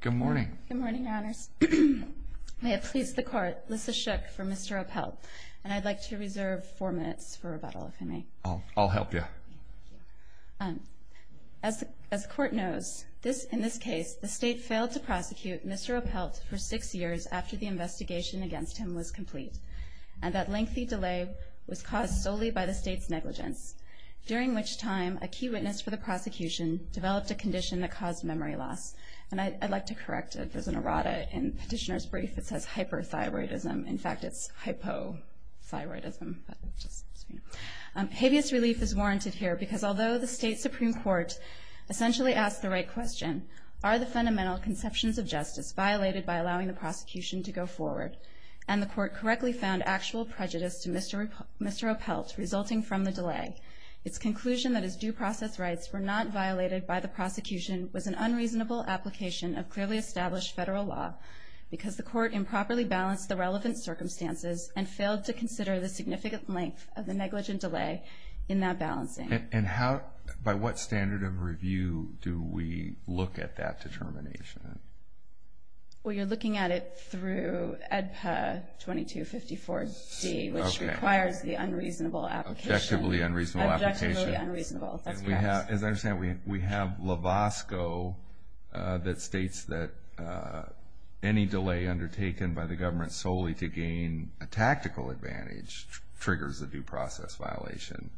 Good morning, Your Honors. May it please the Court, this is Shook for Mr. Oppelt, and I'd like to reserve four minutes for rebuttal, if I may. I'll help you. As the Court knows, in this case, the State failed to prosecute Mr. Oppelt for six years after the investigation against him was complete, and that lengthy delay was caused solely by the State's negligence, during which time a key witness for the prosecution developed a condition that caused memory loss. And I'd like to correct it. There's an errata in the petitioner's brief that says hyperthyroidism. In fact, it's hypothyroidism. Habeas relief is warranted here because although the State Supreme Court essentially asked the right question, are the fundamental conceptions of justice violated by allowing the prosecution to go forward? And the Court correctly found actual prejudice to Mr. Oppelt resulting from the delay. Its conclusion that his due process rights were not violated by the prosecution was an unreasonable application of clearly established federal law because the Court improperly balanced the relevant circumstances and failed to consider the significant length of the negligent delay in that balancing. And how, by what standard of review do we look at that determination? Well, you're looking at it through EDPA 2254-D, which requires the unreasonable application. Objectively unreasonable application. Objectively unreasonable. That's correct. As I understand, we have LAVOSCO that states that any delay undertaken by the government solely to gain a tactical advantage triggers a due process violation.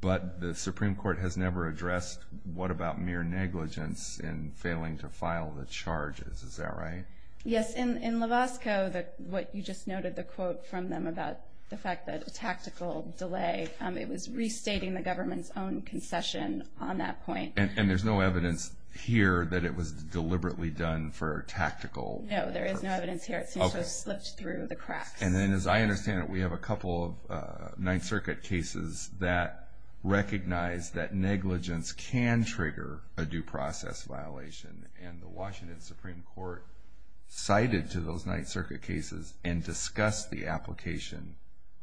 But the Supreme Court has never addressed what about mere negligence in failing to file the charges. Is that right? Yes. In LAVOSCO, what you just noted, the quote from them about the fact that a tactical delay, it was restating the government's own concession on that point. And there's no evidence here that it was deliberately done for tactical purpose? No, there is no evidence here. It seems to have slipped through the cracks. And then as I understand it, we have a couple of Ninth Circuit cases that recognize that negligence can trigger a due process violation. And the Washington Supreme Court cited to those Ninth Circuit cases and discussed the application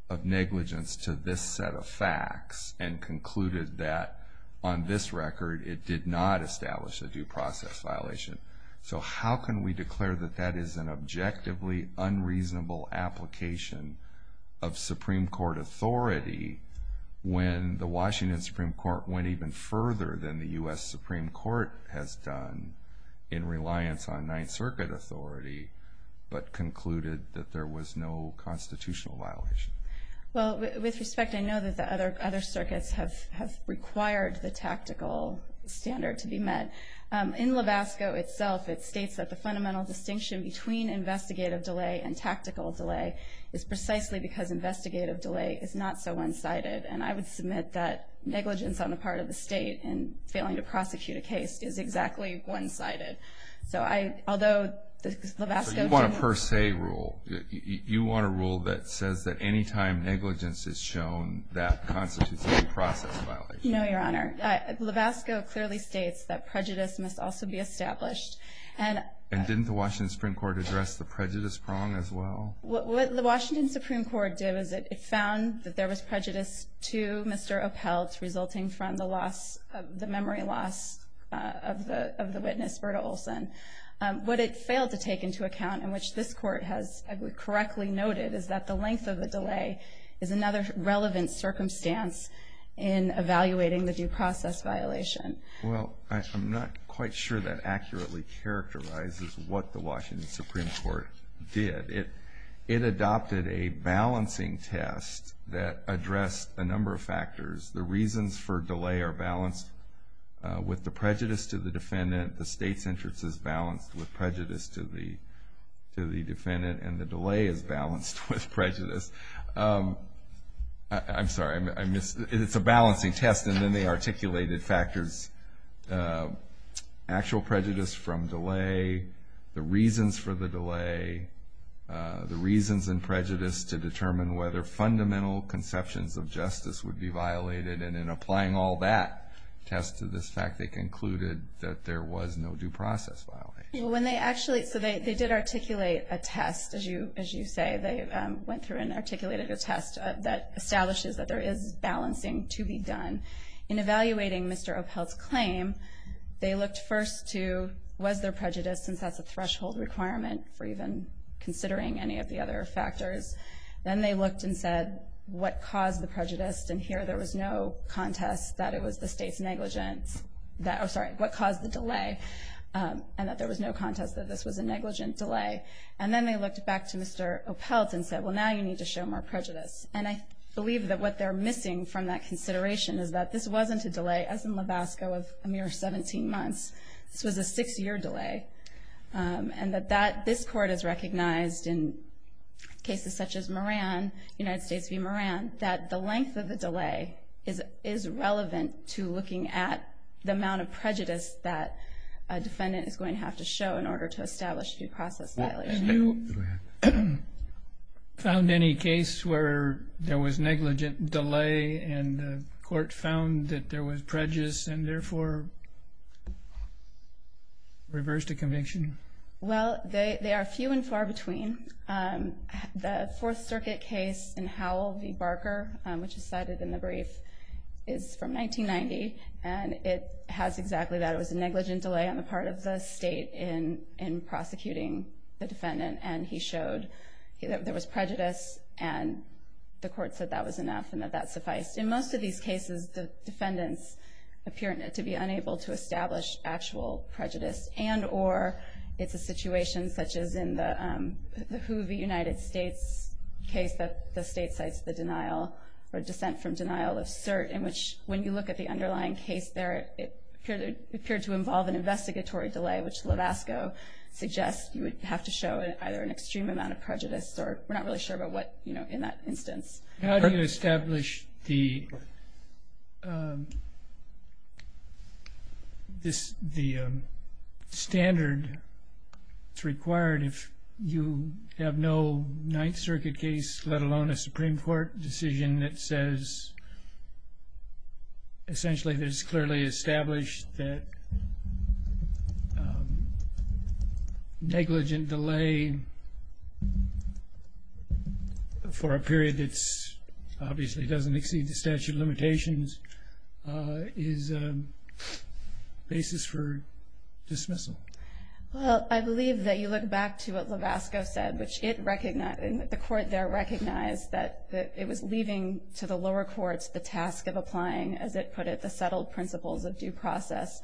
of negligence to this set of facts and concluded that on this record, it did not establish a due process violation. So how can we declare that that is an objectively unreasonable application of Supreme Court authority when the Washington Supreme Court went even further than the U.S. Supreme Court has done in reliance on Ninth Circuit authority, but concluded that there was no constitutional violation? Well, with respect, I know that the other circuits have required the tactical standard to be met. In Levasco itself, it states that the fundamental distinction between investigative delay and tactical delay is precisely because investigative delay is not so one-sided. And I would submit that negligence on the part of the state in failing to prosecute a case is exactly one-sided. So I, although Levasco... So you want a per se rule? You want a rule that says that any time negligence is shown, that constitutes a due process violation? No, Your Honor. Levasco clearly states that prejudice must also be established. And didn't the Washington Supreme Court address the prejudice prong as well? What the Washington Supreme Court did was it found that there was prejudice to Mr. Oppelt resulting from the memory loss of the witness, Berta Olson. What it failed to take into account, and which this Court has correctly noted, is that the length of the delay is another relevant circumstance in evaluating the due process violation. Well, I'm not quite sure that accurately characterizes what the Washington Supreme Court did. It adopted a balancing test that addressed a number of factors. The reasons for delay are balanced with the prejudice to the defendant. The state's interest is balanced with prejudice to the defendant. And the delay is balanced with prejudice. I'm sorry, I missed. It's a balancing test. And then they articulated factors, actual prejudice from delay, the reasons for the delay, the reasons and prejudice to determine whether fundamental conceptions of justice would be violated. And in applying all that test to this fact, they concluded that there was no due process violation. So they did articulate a test, as you say. They went through and articulated a test that establishes that there is balancing to be done. In evaluating Mr. Oppelt's claim, they looked first to was there prejudice, since that's a threshold requirement for even considering any of the other factors. Then they looked and said, what caused the prejudice? And here there was no contest that it was the state's negligence. Oh, sorry, what caused the delay? And that there was no contest that this was a negligent delay. And then they looked back to Mr. Oppelt and said, well, now you need to show more prejudice. And I believe that what they're missing from that consideration is that this wasn't a delay, as in Levasko, of a mere 17 months. This was a six-year delay. And that this Court has recognized in cases such as Moran, United States v. Moran, that the length of the delay is relevant to looking at the amount of prejudice that a defendant is going to have to show in order to establish due process violation. And you found any case where there was negligent delay and the Court found that there was prejudice and therefore reversed a conviction? Well, they are few and far between. The Fourth Circuit case in Howell v. Barker, which is cited in the brief, is from 1990. And it has exactly that. It was a negligent delay on the part of the state in prosecuting the defendant. And he showed that there was prejudice and the Court said that was enough and that that sufficed. In most of these cases, the defendants appear to be unable to establish actual prejudice. And or it's a situation such as in the Who v. United States case that the state cites the denial or dissent from denial of cert in which, when you look at the underlying case there, it appeared to involve an investigatory delay, which Levasco suggests you would have to show either an extreme amount of prejudice or we're not really sure about what, you know, in that instance. How do you establish the standard that's required if you have no Ninth Circuit case, let alone a Supreme Court decision that says, essentially, it is clearly established that negligent delay for a period that obviously doesn't exceed the statute of limitations is a basis for dismissal? Well, I believe that you look back to what Levasco said, which the Court there recognized that it was leaving to the lower courts the task of applying, as it put it, the settled principles of due process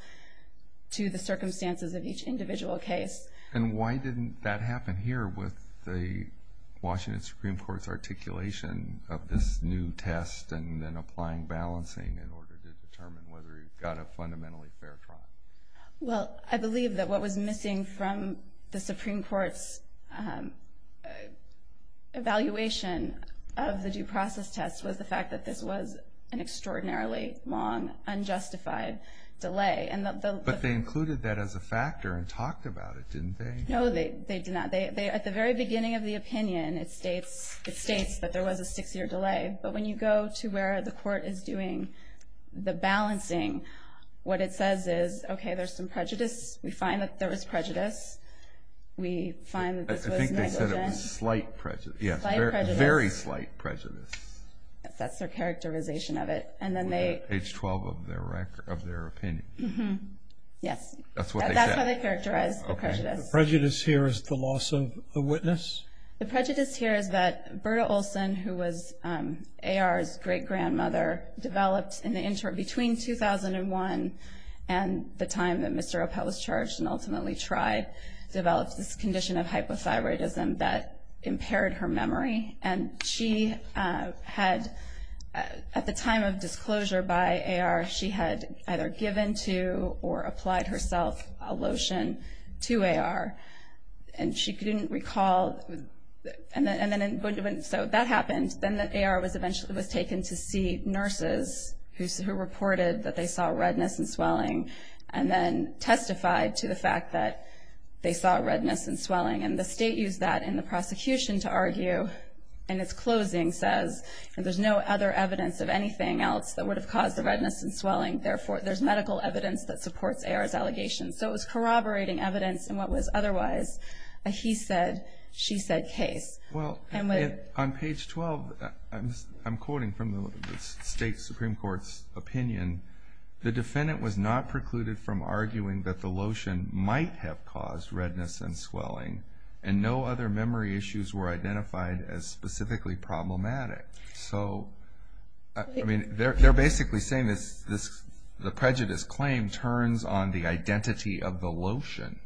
to the circumstances of each individual case. And why didn't that happen here with the Washington Supreme Court's articulation of this new test and then applying balancing in order to determine whether you've got a fundamentally fair trial? Well, I believe that what was missing from the Supreme Court's evaluation of the due process test was the fact that this was an extraordinarily long, unjustified delay. But they included that as a factor and talked about it, didn't they? No, they did not. At the very beginning of the opinion, it states that there was a six-year delay. But when you go to where the Court is doing the balancing, what it says is, okay, there's some prejudice. We find that there was prejudice. We find that this was negligent. I think they said it was slight prejudice. Yes, very slight prejudice. That's their characterization of it. Page 12 of their opinion. Yes. That's what they said. That's how they characterized the prejudice. Okay. The prejudice here is the loss of the witness? The prejudice here is that Berta Olson, who was A.R.'s great-grandmother, developed in the interim between 2001 and the time that Mr. Appel was charged and ultimately tried, developed this condition of hypothyroidism that impaired her memory. And she had, at the time of disclosure by A.R., she had either given to or applied herself a lotion to A.R. And she didn't recall. So that happened. Then A.R. was taken to see nurses who reported that they saw redness and swelling and then testified to the fact that they saw redness and swelling. And the state used that in the prosecution to argue, in its closing, says, there's no other evidence of anything else that would have caused the redness and swelling. Therefore, there's medical evidence that supports A.R.'s allegations. So it was corroborating evidence in what was otherwise a he said, she said case. Well, on page 12, I'm quoting from the state Supreme Court's opinion. The defendant was not precluded from arguing that the lotion might have caused redness and swelling and no other memory issues were identified as specifically problematic. So, I mean, they're basically saying the prejudice claim turns on the identity of the lotion,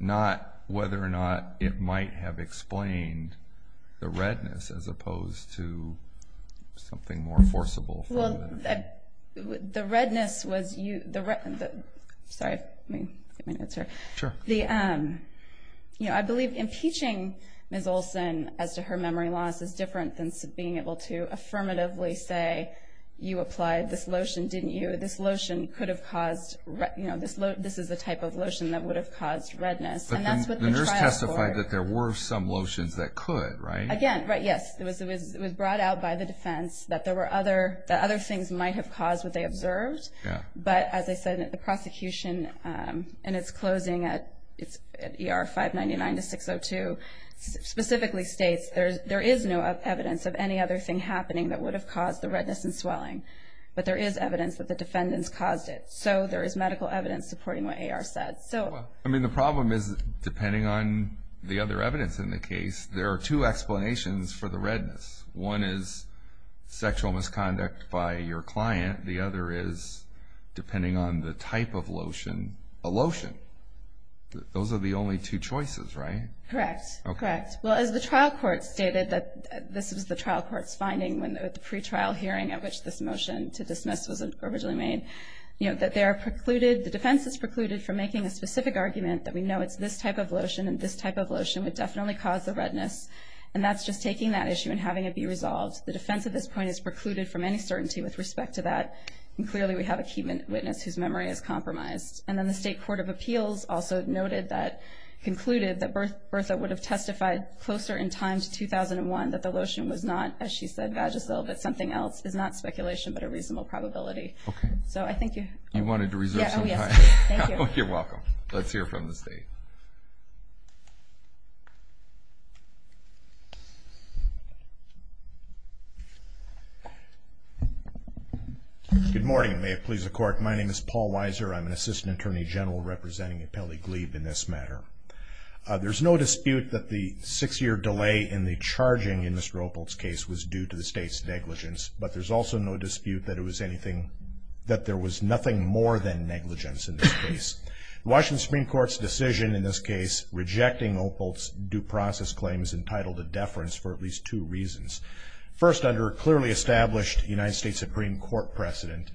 not whether or not it might have explained the redness as opposed to something more forcible. Well, the redness was you. Sorry, let me answer. Sure. You know, I believe impeaching Ms. Olson as to her memory loss is different than being able to affirmatively say you applied this lotion, didn't you? This lotion could have caused, you know, this is the type of lotion that would have caused redness. And that's what the trial for. But the nurse testified that there were some lotions that could, right? Again, right, yes. It was brought out by the defense that there were other things might have caused what they observed. But as I said, the prosecution in its closing at ER 599 to 602 specifically states there is no evidence of any other thing happening that would have caused the redness and swelling. But there is evidence that the defendants caused it. So there is medical evidence supporting what AR said. I mean, the problem is, depending on the other evidence in the case, there are two explanations for the redness. One is sexual misconduct by your client. The other is, depending on the type of lotion, a lotion. Those are the only two choices, right? Correct. Correct. Well, as the trial court stated that this was the trial court's finding at the pre-trial hearing at which this motion to dismiss was originally made, you know, that they are precluded, the defense is precluded from making a specific argument that we know it's this type of lotion and this type of lotion would definitely cause the redness. And that's just taking that issue and having it be resolved. The defense at this point is precluded from any certainty with respect to that. And clearly we have a key witness whose memory is compromised. And then the State Court of Appeals also noted that, concluded that Bertha would have testified closer in time to 2001 that the lotion was not, as she said, Vagisil, but something else, is not speculation but a reasonable probability. Okay. So I think you... You wanted to reserve some time. Oh, yes. Thank you. You're welcome. Let's hear from the State. Good morning. May it please the Court. My name is Paul Weiser. I'm an Assistant Attorney General representing Appellee Glebe in this matter. There's no dispute that the six-year delay in the charging in Mr. Opal's case was due to the State's negligence, but there's also no dispute that it was anything, that there was nothing more than negligence in this case. The Washington Supreme Court's decision in this case rejecting Opal's due process claim is entitled to deference for at least two reasons. First, under a clearly established United States Supreme Court precedent,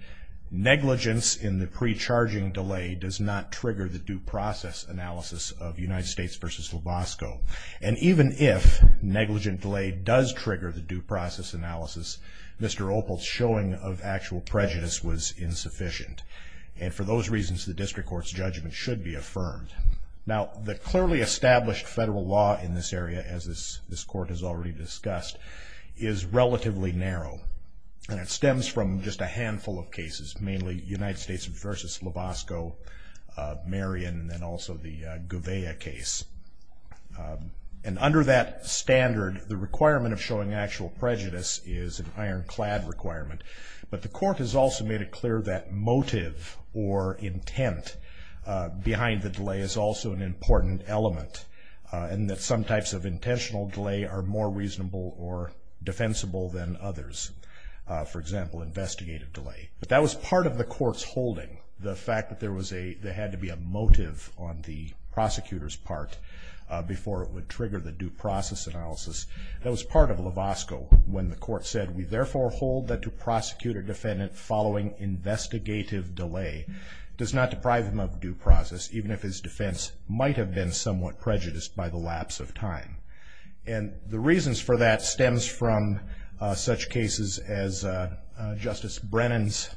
negligence in the pre-charging delay does not trigger the due process analysis of United States v. Lubosco. And even if negligent delay does trigger the due process analysis, Mr. Opal's showing of actual prejudice was insufficient, and for those reasons the district court's judgment should be affirmed. Now, the clearly established federal law in this area, as this Court has already discussed, is relatively narrow, and it stems from just a handful of cases, mainly United States v. Lubosco, Marion, and also the Gouveia case. And under that standard, the requirement of showing actual prejudice is an ironclad requirement. But the Court has also made it clear that motive or intent behind the delay is also an important element, and that some types of intentional delay are more reasonable or defensible than others. For example, investigative delay. But that was part of the Court's holding, the fact that there had to be a motive on the prosecutor's part before it would trigger the due process analysis. That was part of Lubosco when the Court said, we therefore hold that to prosecute a defendant following investigative delay does not deprive him of due process, even if his defense might have been somewhat prejudiced by the lapse of time. And the reasons for that stems from such cases as Justice Brennan's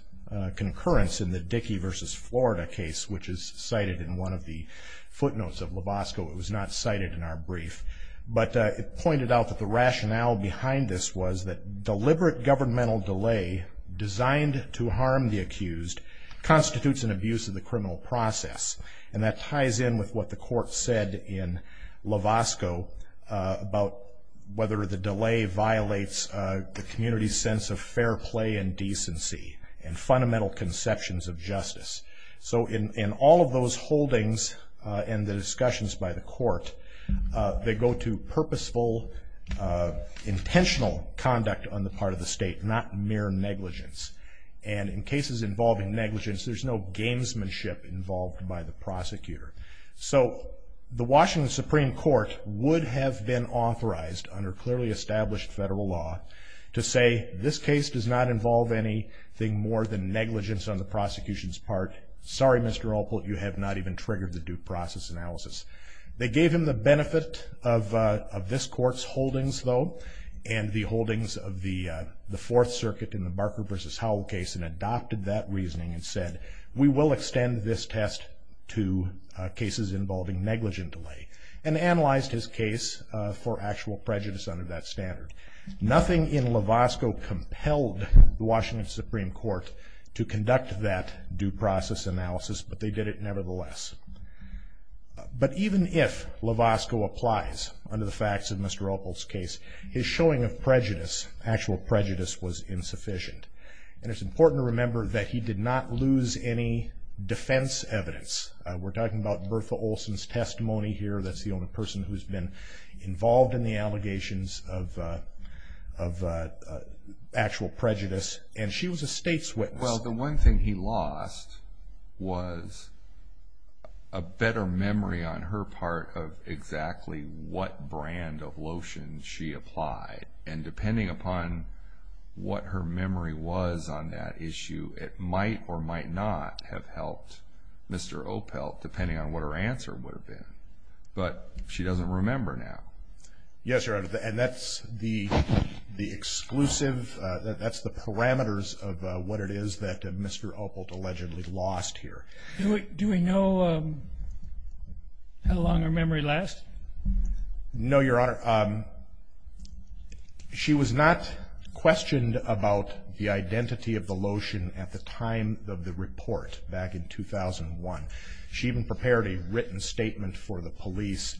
concurrence in the Dickey v. Florida case, which is cited in one of the footnotes of Lubosco. It was not cited in our brief. But it pointed out that the rationale behind this was that deliberate governmental delay designed to harm the accused constitutes an abuse of the criminal process. And that ties in with what the Court said in Lubosco about whether the delay violates the community's sense of fair play and decency and fundamental conceptions of justice. So in all of those holdings and the discussions by the Court, they go to purposeful, intentional conduct on the part of the state, not mere negligence. And in cases involving negligence, there's no gamesmanship involved by the prosecutor. So the Washington Supreme Court would have been authorized, under clearly established federal law, to say this case does not involve anything more than negligence on the prosecution's part. Sorry, Mr. Alport, you have not even triggered the due process analysis. They gave him the benefit of this Court's holdings, though, and the holdings of the Fourth Circuit in the Barker v. Howell case and adopted that reasoning and said, we will extend this test to cases involving negligent delay, and analyzed his case for actual prejudice under that standard. Nothing in Lubosco compelled the Washington Supreme Court to conduct that due process analysis, but they did it nevertheless. But even if Lubosco applies under the facts of Mr. Alport's case, his showing of prejudice, actual prejudice, was insufficient. And it's important to remember that he did not lose any defense evidence. We're talking about Bertha Olson's testimony here. That's the only person who's been involved in the allegations of actual prejudice. And she was a state's witness. Well, the one thing he lost was a better memory on her part of exactly what brand of lotion she applied. And depending upon what her memory was on that issue, it might or might not have helped Mr. Opelt, depending on what her answer would have been. But she doesn't remember now. Yes, Your Honor, and that's the exclusive, that's the parameters of what it is that Mr. Opelt allegedly lost here. Do we know how long her memory lasts? No, Your Honor. She was not questioned about the identity of the lotion at the time of the report back in 2001. She even prepared a written statement for the police.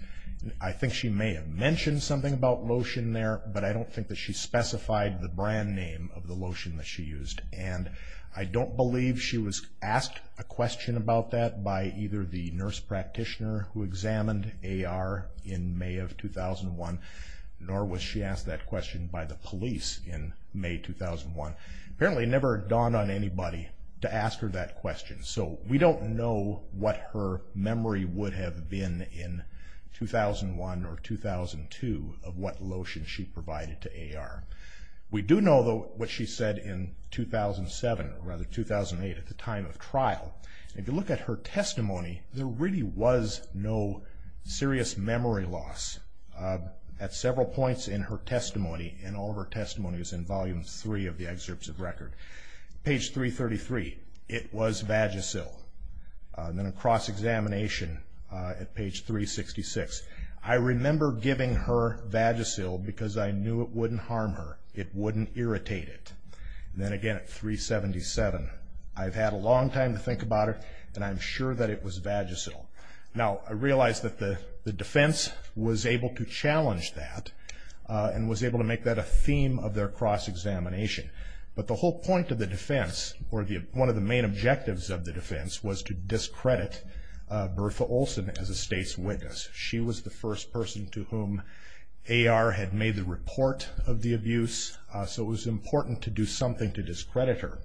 I think she may have mentioned something about lotion there, but I don't think that she specified the brand name of the lotion that she used. And I don't believe she was asked a question about that by either the nurse practitioner who examined AR in May of 2001, nor was she asked that question by the police in May 2001. Apparently never dawned on anybody to ask her that question. So we don't know what her memory would have been in 2001 or 2002 of what lotion she provided to AR. We do know, though, what she said in 2007, or rather 2008 at the time of trial. If you look at her testimony, there really was no serious memory loss. At several points in her testimony, and all of her testimony is in Volume 3 of the excerpts of record, page 333, it was Vagisil. Then a cross-examination at page 366. I remember giving her Vagisil because I knew it wouldn't harm her. It wouldn't irritate it. Then again at 377, I've had a long time to think about it, and I'm sure that it was Vagisil. Now, I realize that the defense was able to challenge that and was able to make that a theme of their cross-examination. But the whole point of the defense, or one of the main objectives of the defense, was to discredit Bertha Olson as a state's witness. She was the first person to whom AR had made the report of the abuse, so it was important to do something to discredit her.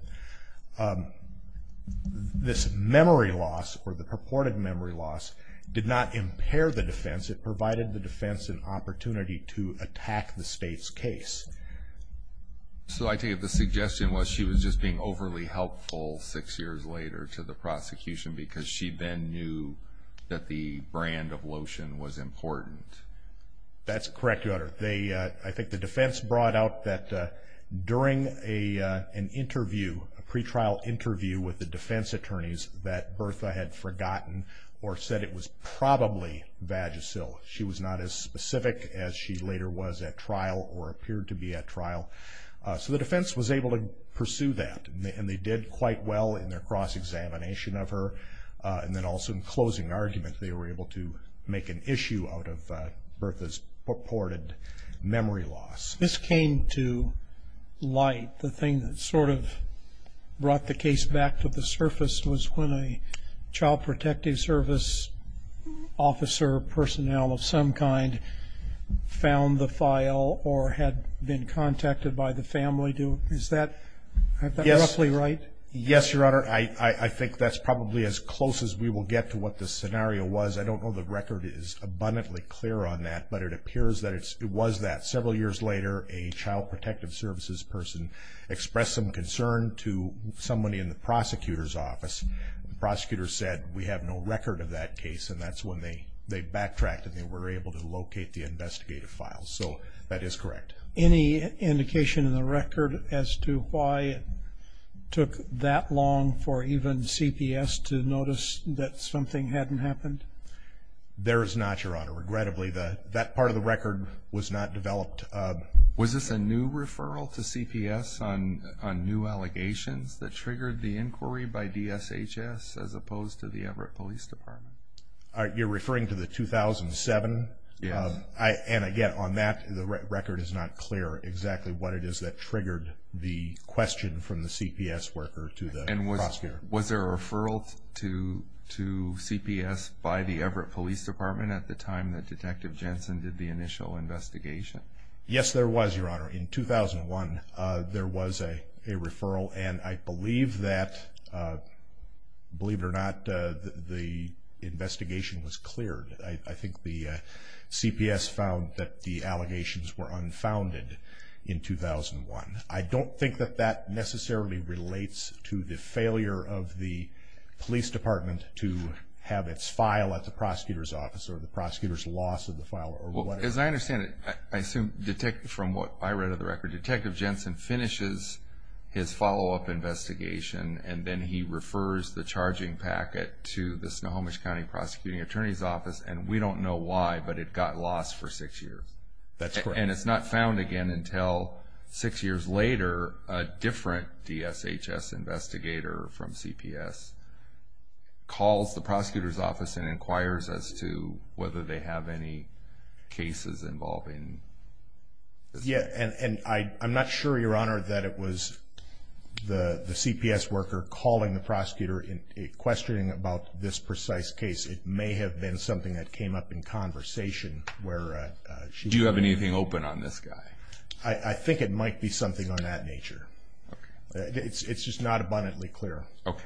This memory loss, or the purported memory loss, did not impair the defense. It provided the defense an opportunity to attack the state's case. So I take it the suggestion was she was just being overly helpful six years later to the prosecution because she then knew that the brand of lotion was important. That's correct, Your Honor. I think the defense brought out that during an interview, a pretrial interview with the defense attorneys, that Bertha had forgotten or said it was probably Vagisil. She was not as specific as she later was at trial or appeared to be at trial. So the defense was able to pursue that, and they did quite well in their cross-examination of her. And then also in closing argument, they were able to make an issue out of Bertha's purported memory loss. This came to light. The thing that sort of brought the case back to the surface was when a Child Protective Service officer, personnel of some kind, found the file or had been contacted by the family. Is that roughly right? Yes, Your Honor. I think that's probably as close as we will get to what the scenario was. I don't know the record is abundantly clear on that, but it appears that it was that. Several years later, a Child Protective Services person expressed some concern to somebody in the prosecutor's office. The prosecutor said, we have no record of that case, and that's when they backtracked and they were able to locate the investigative files. So that is correct. Any indication in the record as to why it took that long for even CPS to notice that something hadn't happened? There is not, Your Honor. Regrettably, that part of the record was not developed. Was this a new referral to CPS on new allegations that triggered the inquiry by DSHS as opposed to the Everett Police Department? You're referring to the 2007? Yes. And again, on that, the record is not clear exactly what it is that triggered the question from the CPS worker to the prosecutor. And was there a referral to CPS by the Everett Police Department at the time that Detective Jensen did the initial investigation? Yes, there was, Your Honor. In 2001, there was a referral, and I believe that, believe it or not, the investigation was cleared. I think the CPS found that the allegations were unfounded in 2001. I don't think that that necessarily relates to the failure of the police department to have its file at the prosecutor's office or the prosecutor's loss of the file. As I understand it, I assume from what I read of the record, Detective Jensen finishes his follow-up investigation and then he refers the charging packet to the Snohomish County Prosecuting Attorney's Office, and we don't know why, but it got lost for six years. That's correct. And it's not found again until six years later, a different DSHS investigator from CPS calls the prosecutor's office and inquires as to whether they have any cases involving this. Yes, and I'm not sure, Your Honor, that it was the CPS worker calling the prosecutor and questioning about this precise case. It may have been something that came up in conversation where she was. Do you have anything open on this guy? I think it might be something on that nature. Okay. It's just not abundantly clear. Okay.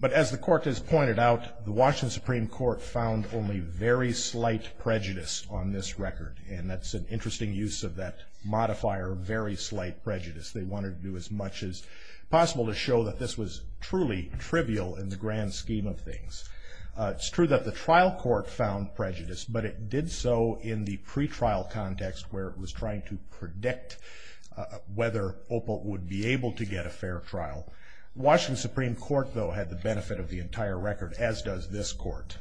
But as the Court has pointed out, the Washington Supreme Court found only very slight prejudice on this record, and that's an interesting use of that modifier, very slight prejudice. They wanted to do as much as possible to show that this was truly trivial in the grand scheme of things. It's true that the trial court found prejudice, but it did so in the pretrial context where it was trying to predict whether Opelt would be able to get a fair trial. Washington Supreme Court, though, had the benefit of the entire record, as does this court,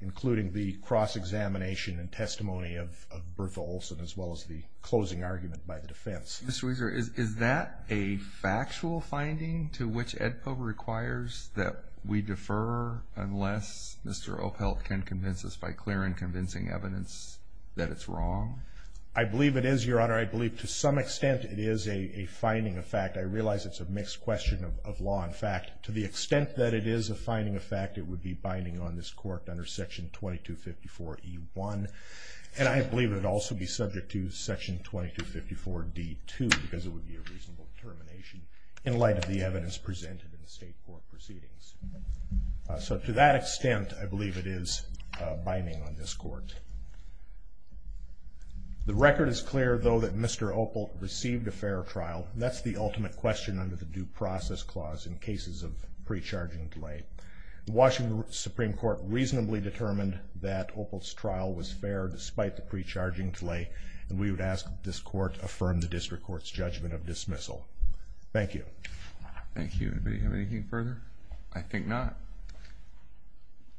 including the cross-examination and testimony of Bertha Olson as well as the closing argument by the defense. Mr. Weiser, is that a factual finding to which AEDPA requires that we defer unless Mr. Opelt can convince us by clear and convincing evidence that it's wrong? I believe it is, Your Honor. I believe to some extent it is a finding of fact. I realize it's a mixed question of law and fact. To the extent that it is a finding of fact, it would be binding on this Court under Section 2254E1, and I believe it would also be subject to Section 2254D2 because it would be a reasonable termination in light of the evidence presented in the state court proceedings. So to that extent, I believe it is binding on this Court. The record is clear, though, that Mr. Opelt received a fair trial. That's the ultimate question under the Due Process Clause in cases of pre-charging delay. Washington Supreme Court reasonably determined that Opelt's trial was fair despite the pre-charging delay, and we would ask that this Court affirm the district court's judgment of dismissal. Thank you. Thank you. Anybody have anything further? I think not.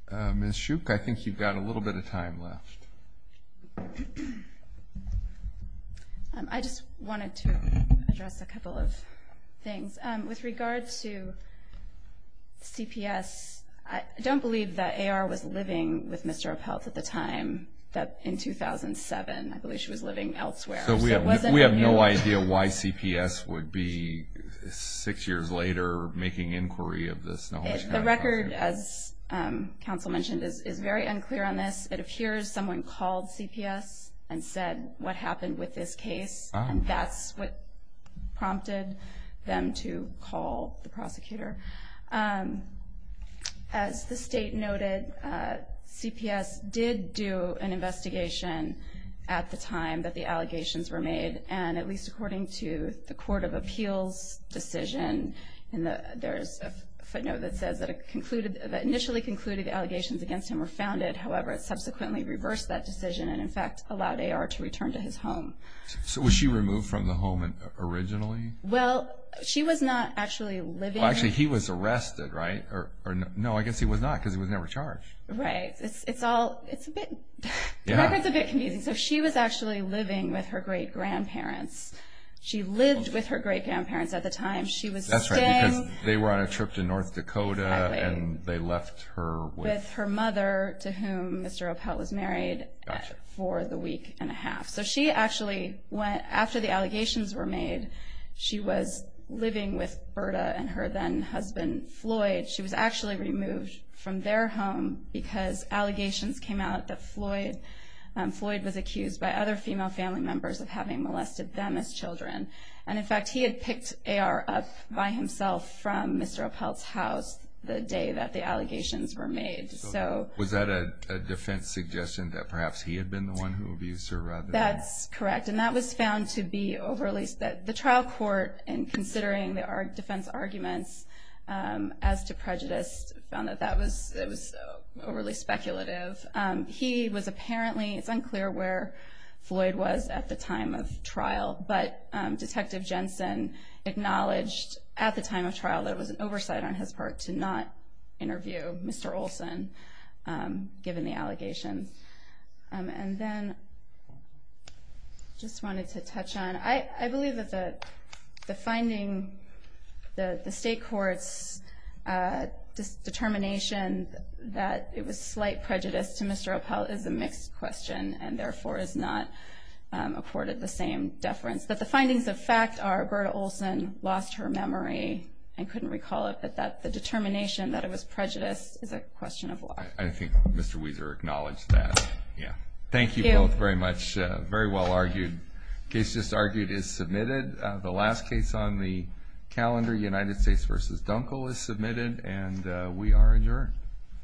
Ms. Schuch, I think you've got a little bit of time left. I just wanted to address a couple of things. With regard to CPS, I don't believe that AR was living with Mr. Opelt at the time in 2007. I believe she was living elsewhere. We have no idea why CPS would be, six years later, making inquiry of this. The record, as counsel mentioned, is very unclear on this. It appears someone called CPS and said what happened with this case, and that's what prompted them to call the prosecutor. As the State noted, CPS did do an investigation at the time that the allegations were made, and at least according to the Court of Appeals decision, there's a footnote that says that initially concluded the allegations against him were founded. However, it subsequently reversed that decision and, in fact, allowed AR to return to his home. So was she removed from the home originally? Well, she was not actually living there. Well, actually, he was arrested, right? No, I guess he was not, because he was never charged. Right. The record's a bit confusing. She was actually living with her great-grandparents. She lived with her great-grandparents at the time. That's right, because they were on a trip to North Dakota, and they left her with— With her mother, to whom Mr. Opelt was married for the week and a half. So she actually, after the allegations were made, she was living with Berta and her then-husband Floyd. She was actually removed from their home because allegations came out that Floyd was accused by other female family members of having molested them as children. And, in fact, he had picked AR up by himself from Mr. Opelt's house the day that the allegations were made. So was that a defense suggestion that perhaps he had been the one who abused her? That's correct, and that was found to be overly— the trial court, in considering our defense arguments as to prejudice, found that that was overly speculative. He was apparently—it's unclear where Floyd was at the time of trial, but Detective Jensen acknowledged at the time of trial that it was an oversight on his part to not interview Mr. Olson, given the allegations. And then I just wanted to touch on— I believe that the finding, the state court's determination that it was slight prejudice to Mr. Opelt is a mixed question, and therefore is not accorded the same deference. But the findings of fact are Berta Olson lost her memory and couldn't recall it, but the determination that it was prejudice is a question of law. I think Mr. Wieser acknowledged that. Thank you both very much. Thank you. Very well argued. The case just argued is submitted. The last case on the calendar, United States v. Dunkel, is submitted, and we are adjourned.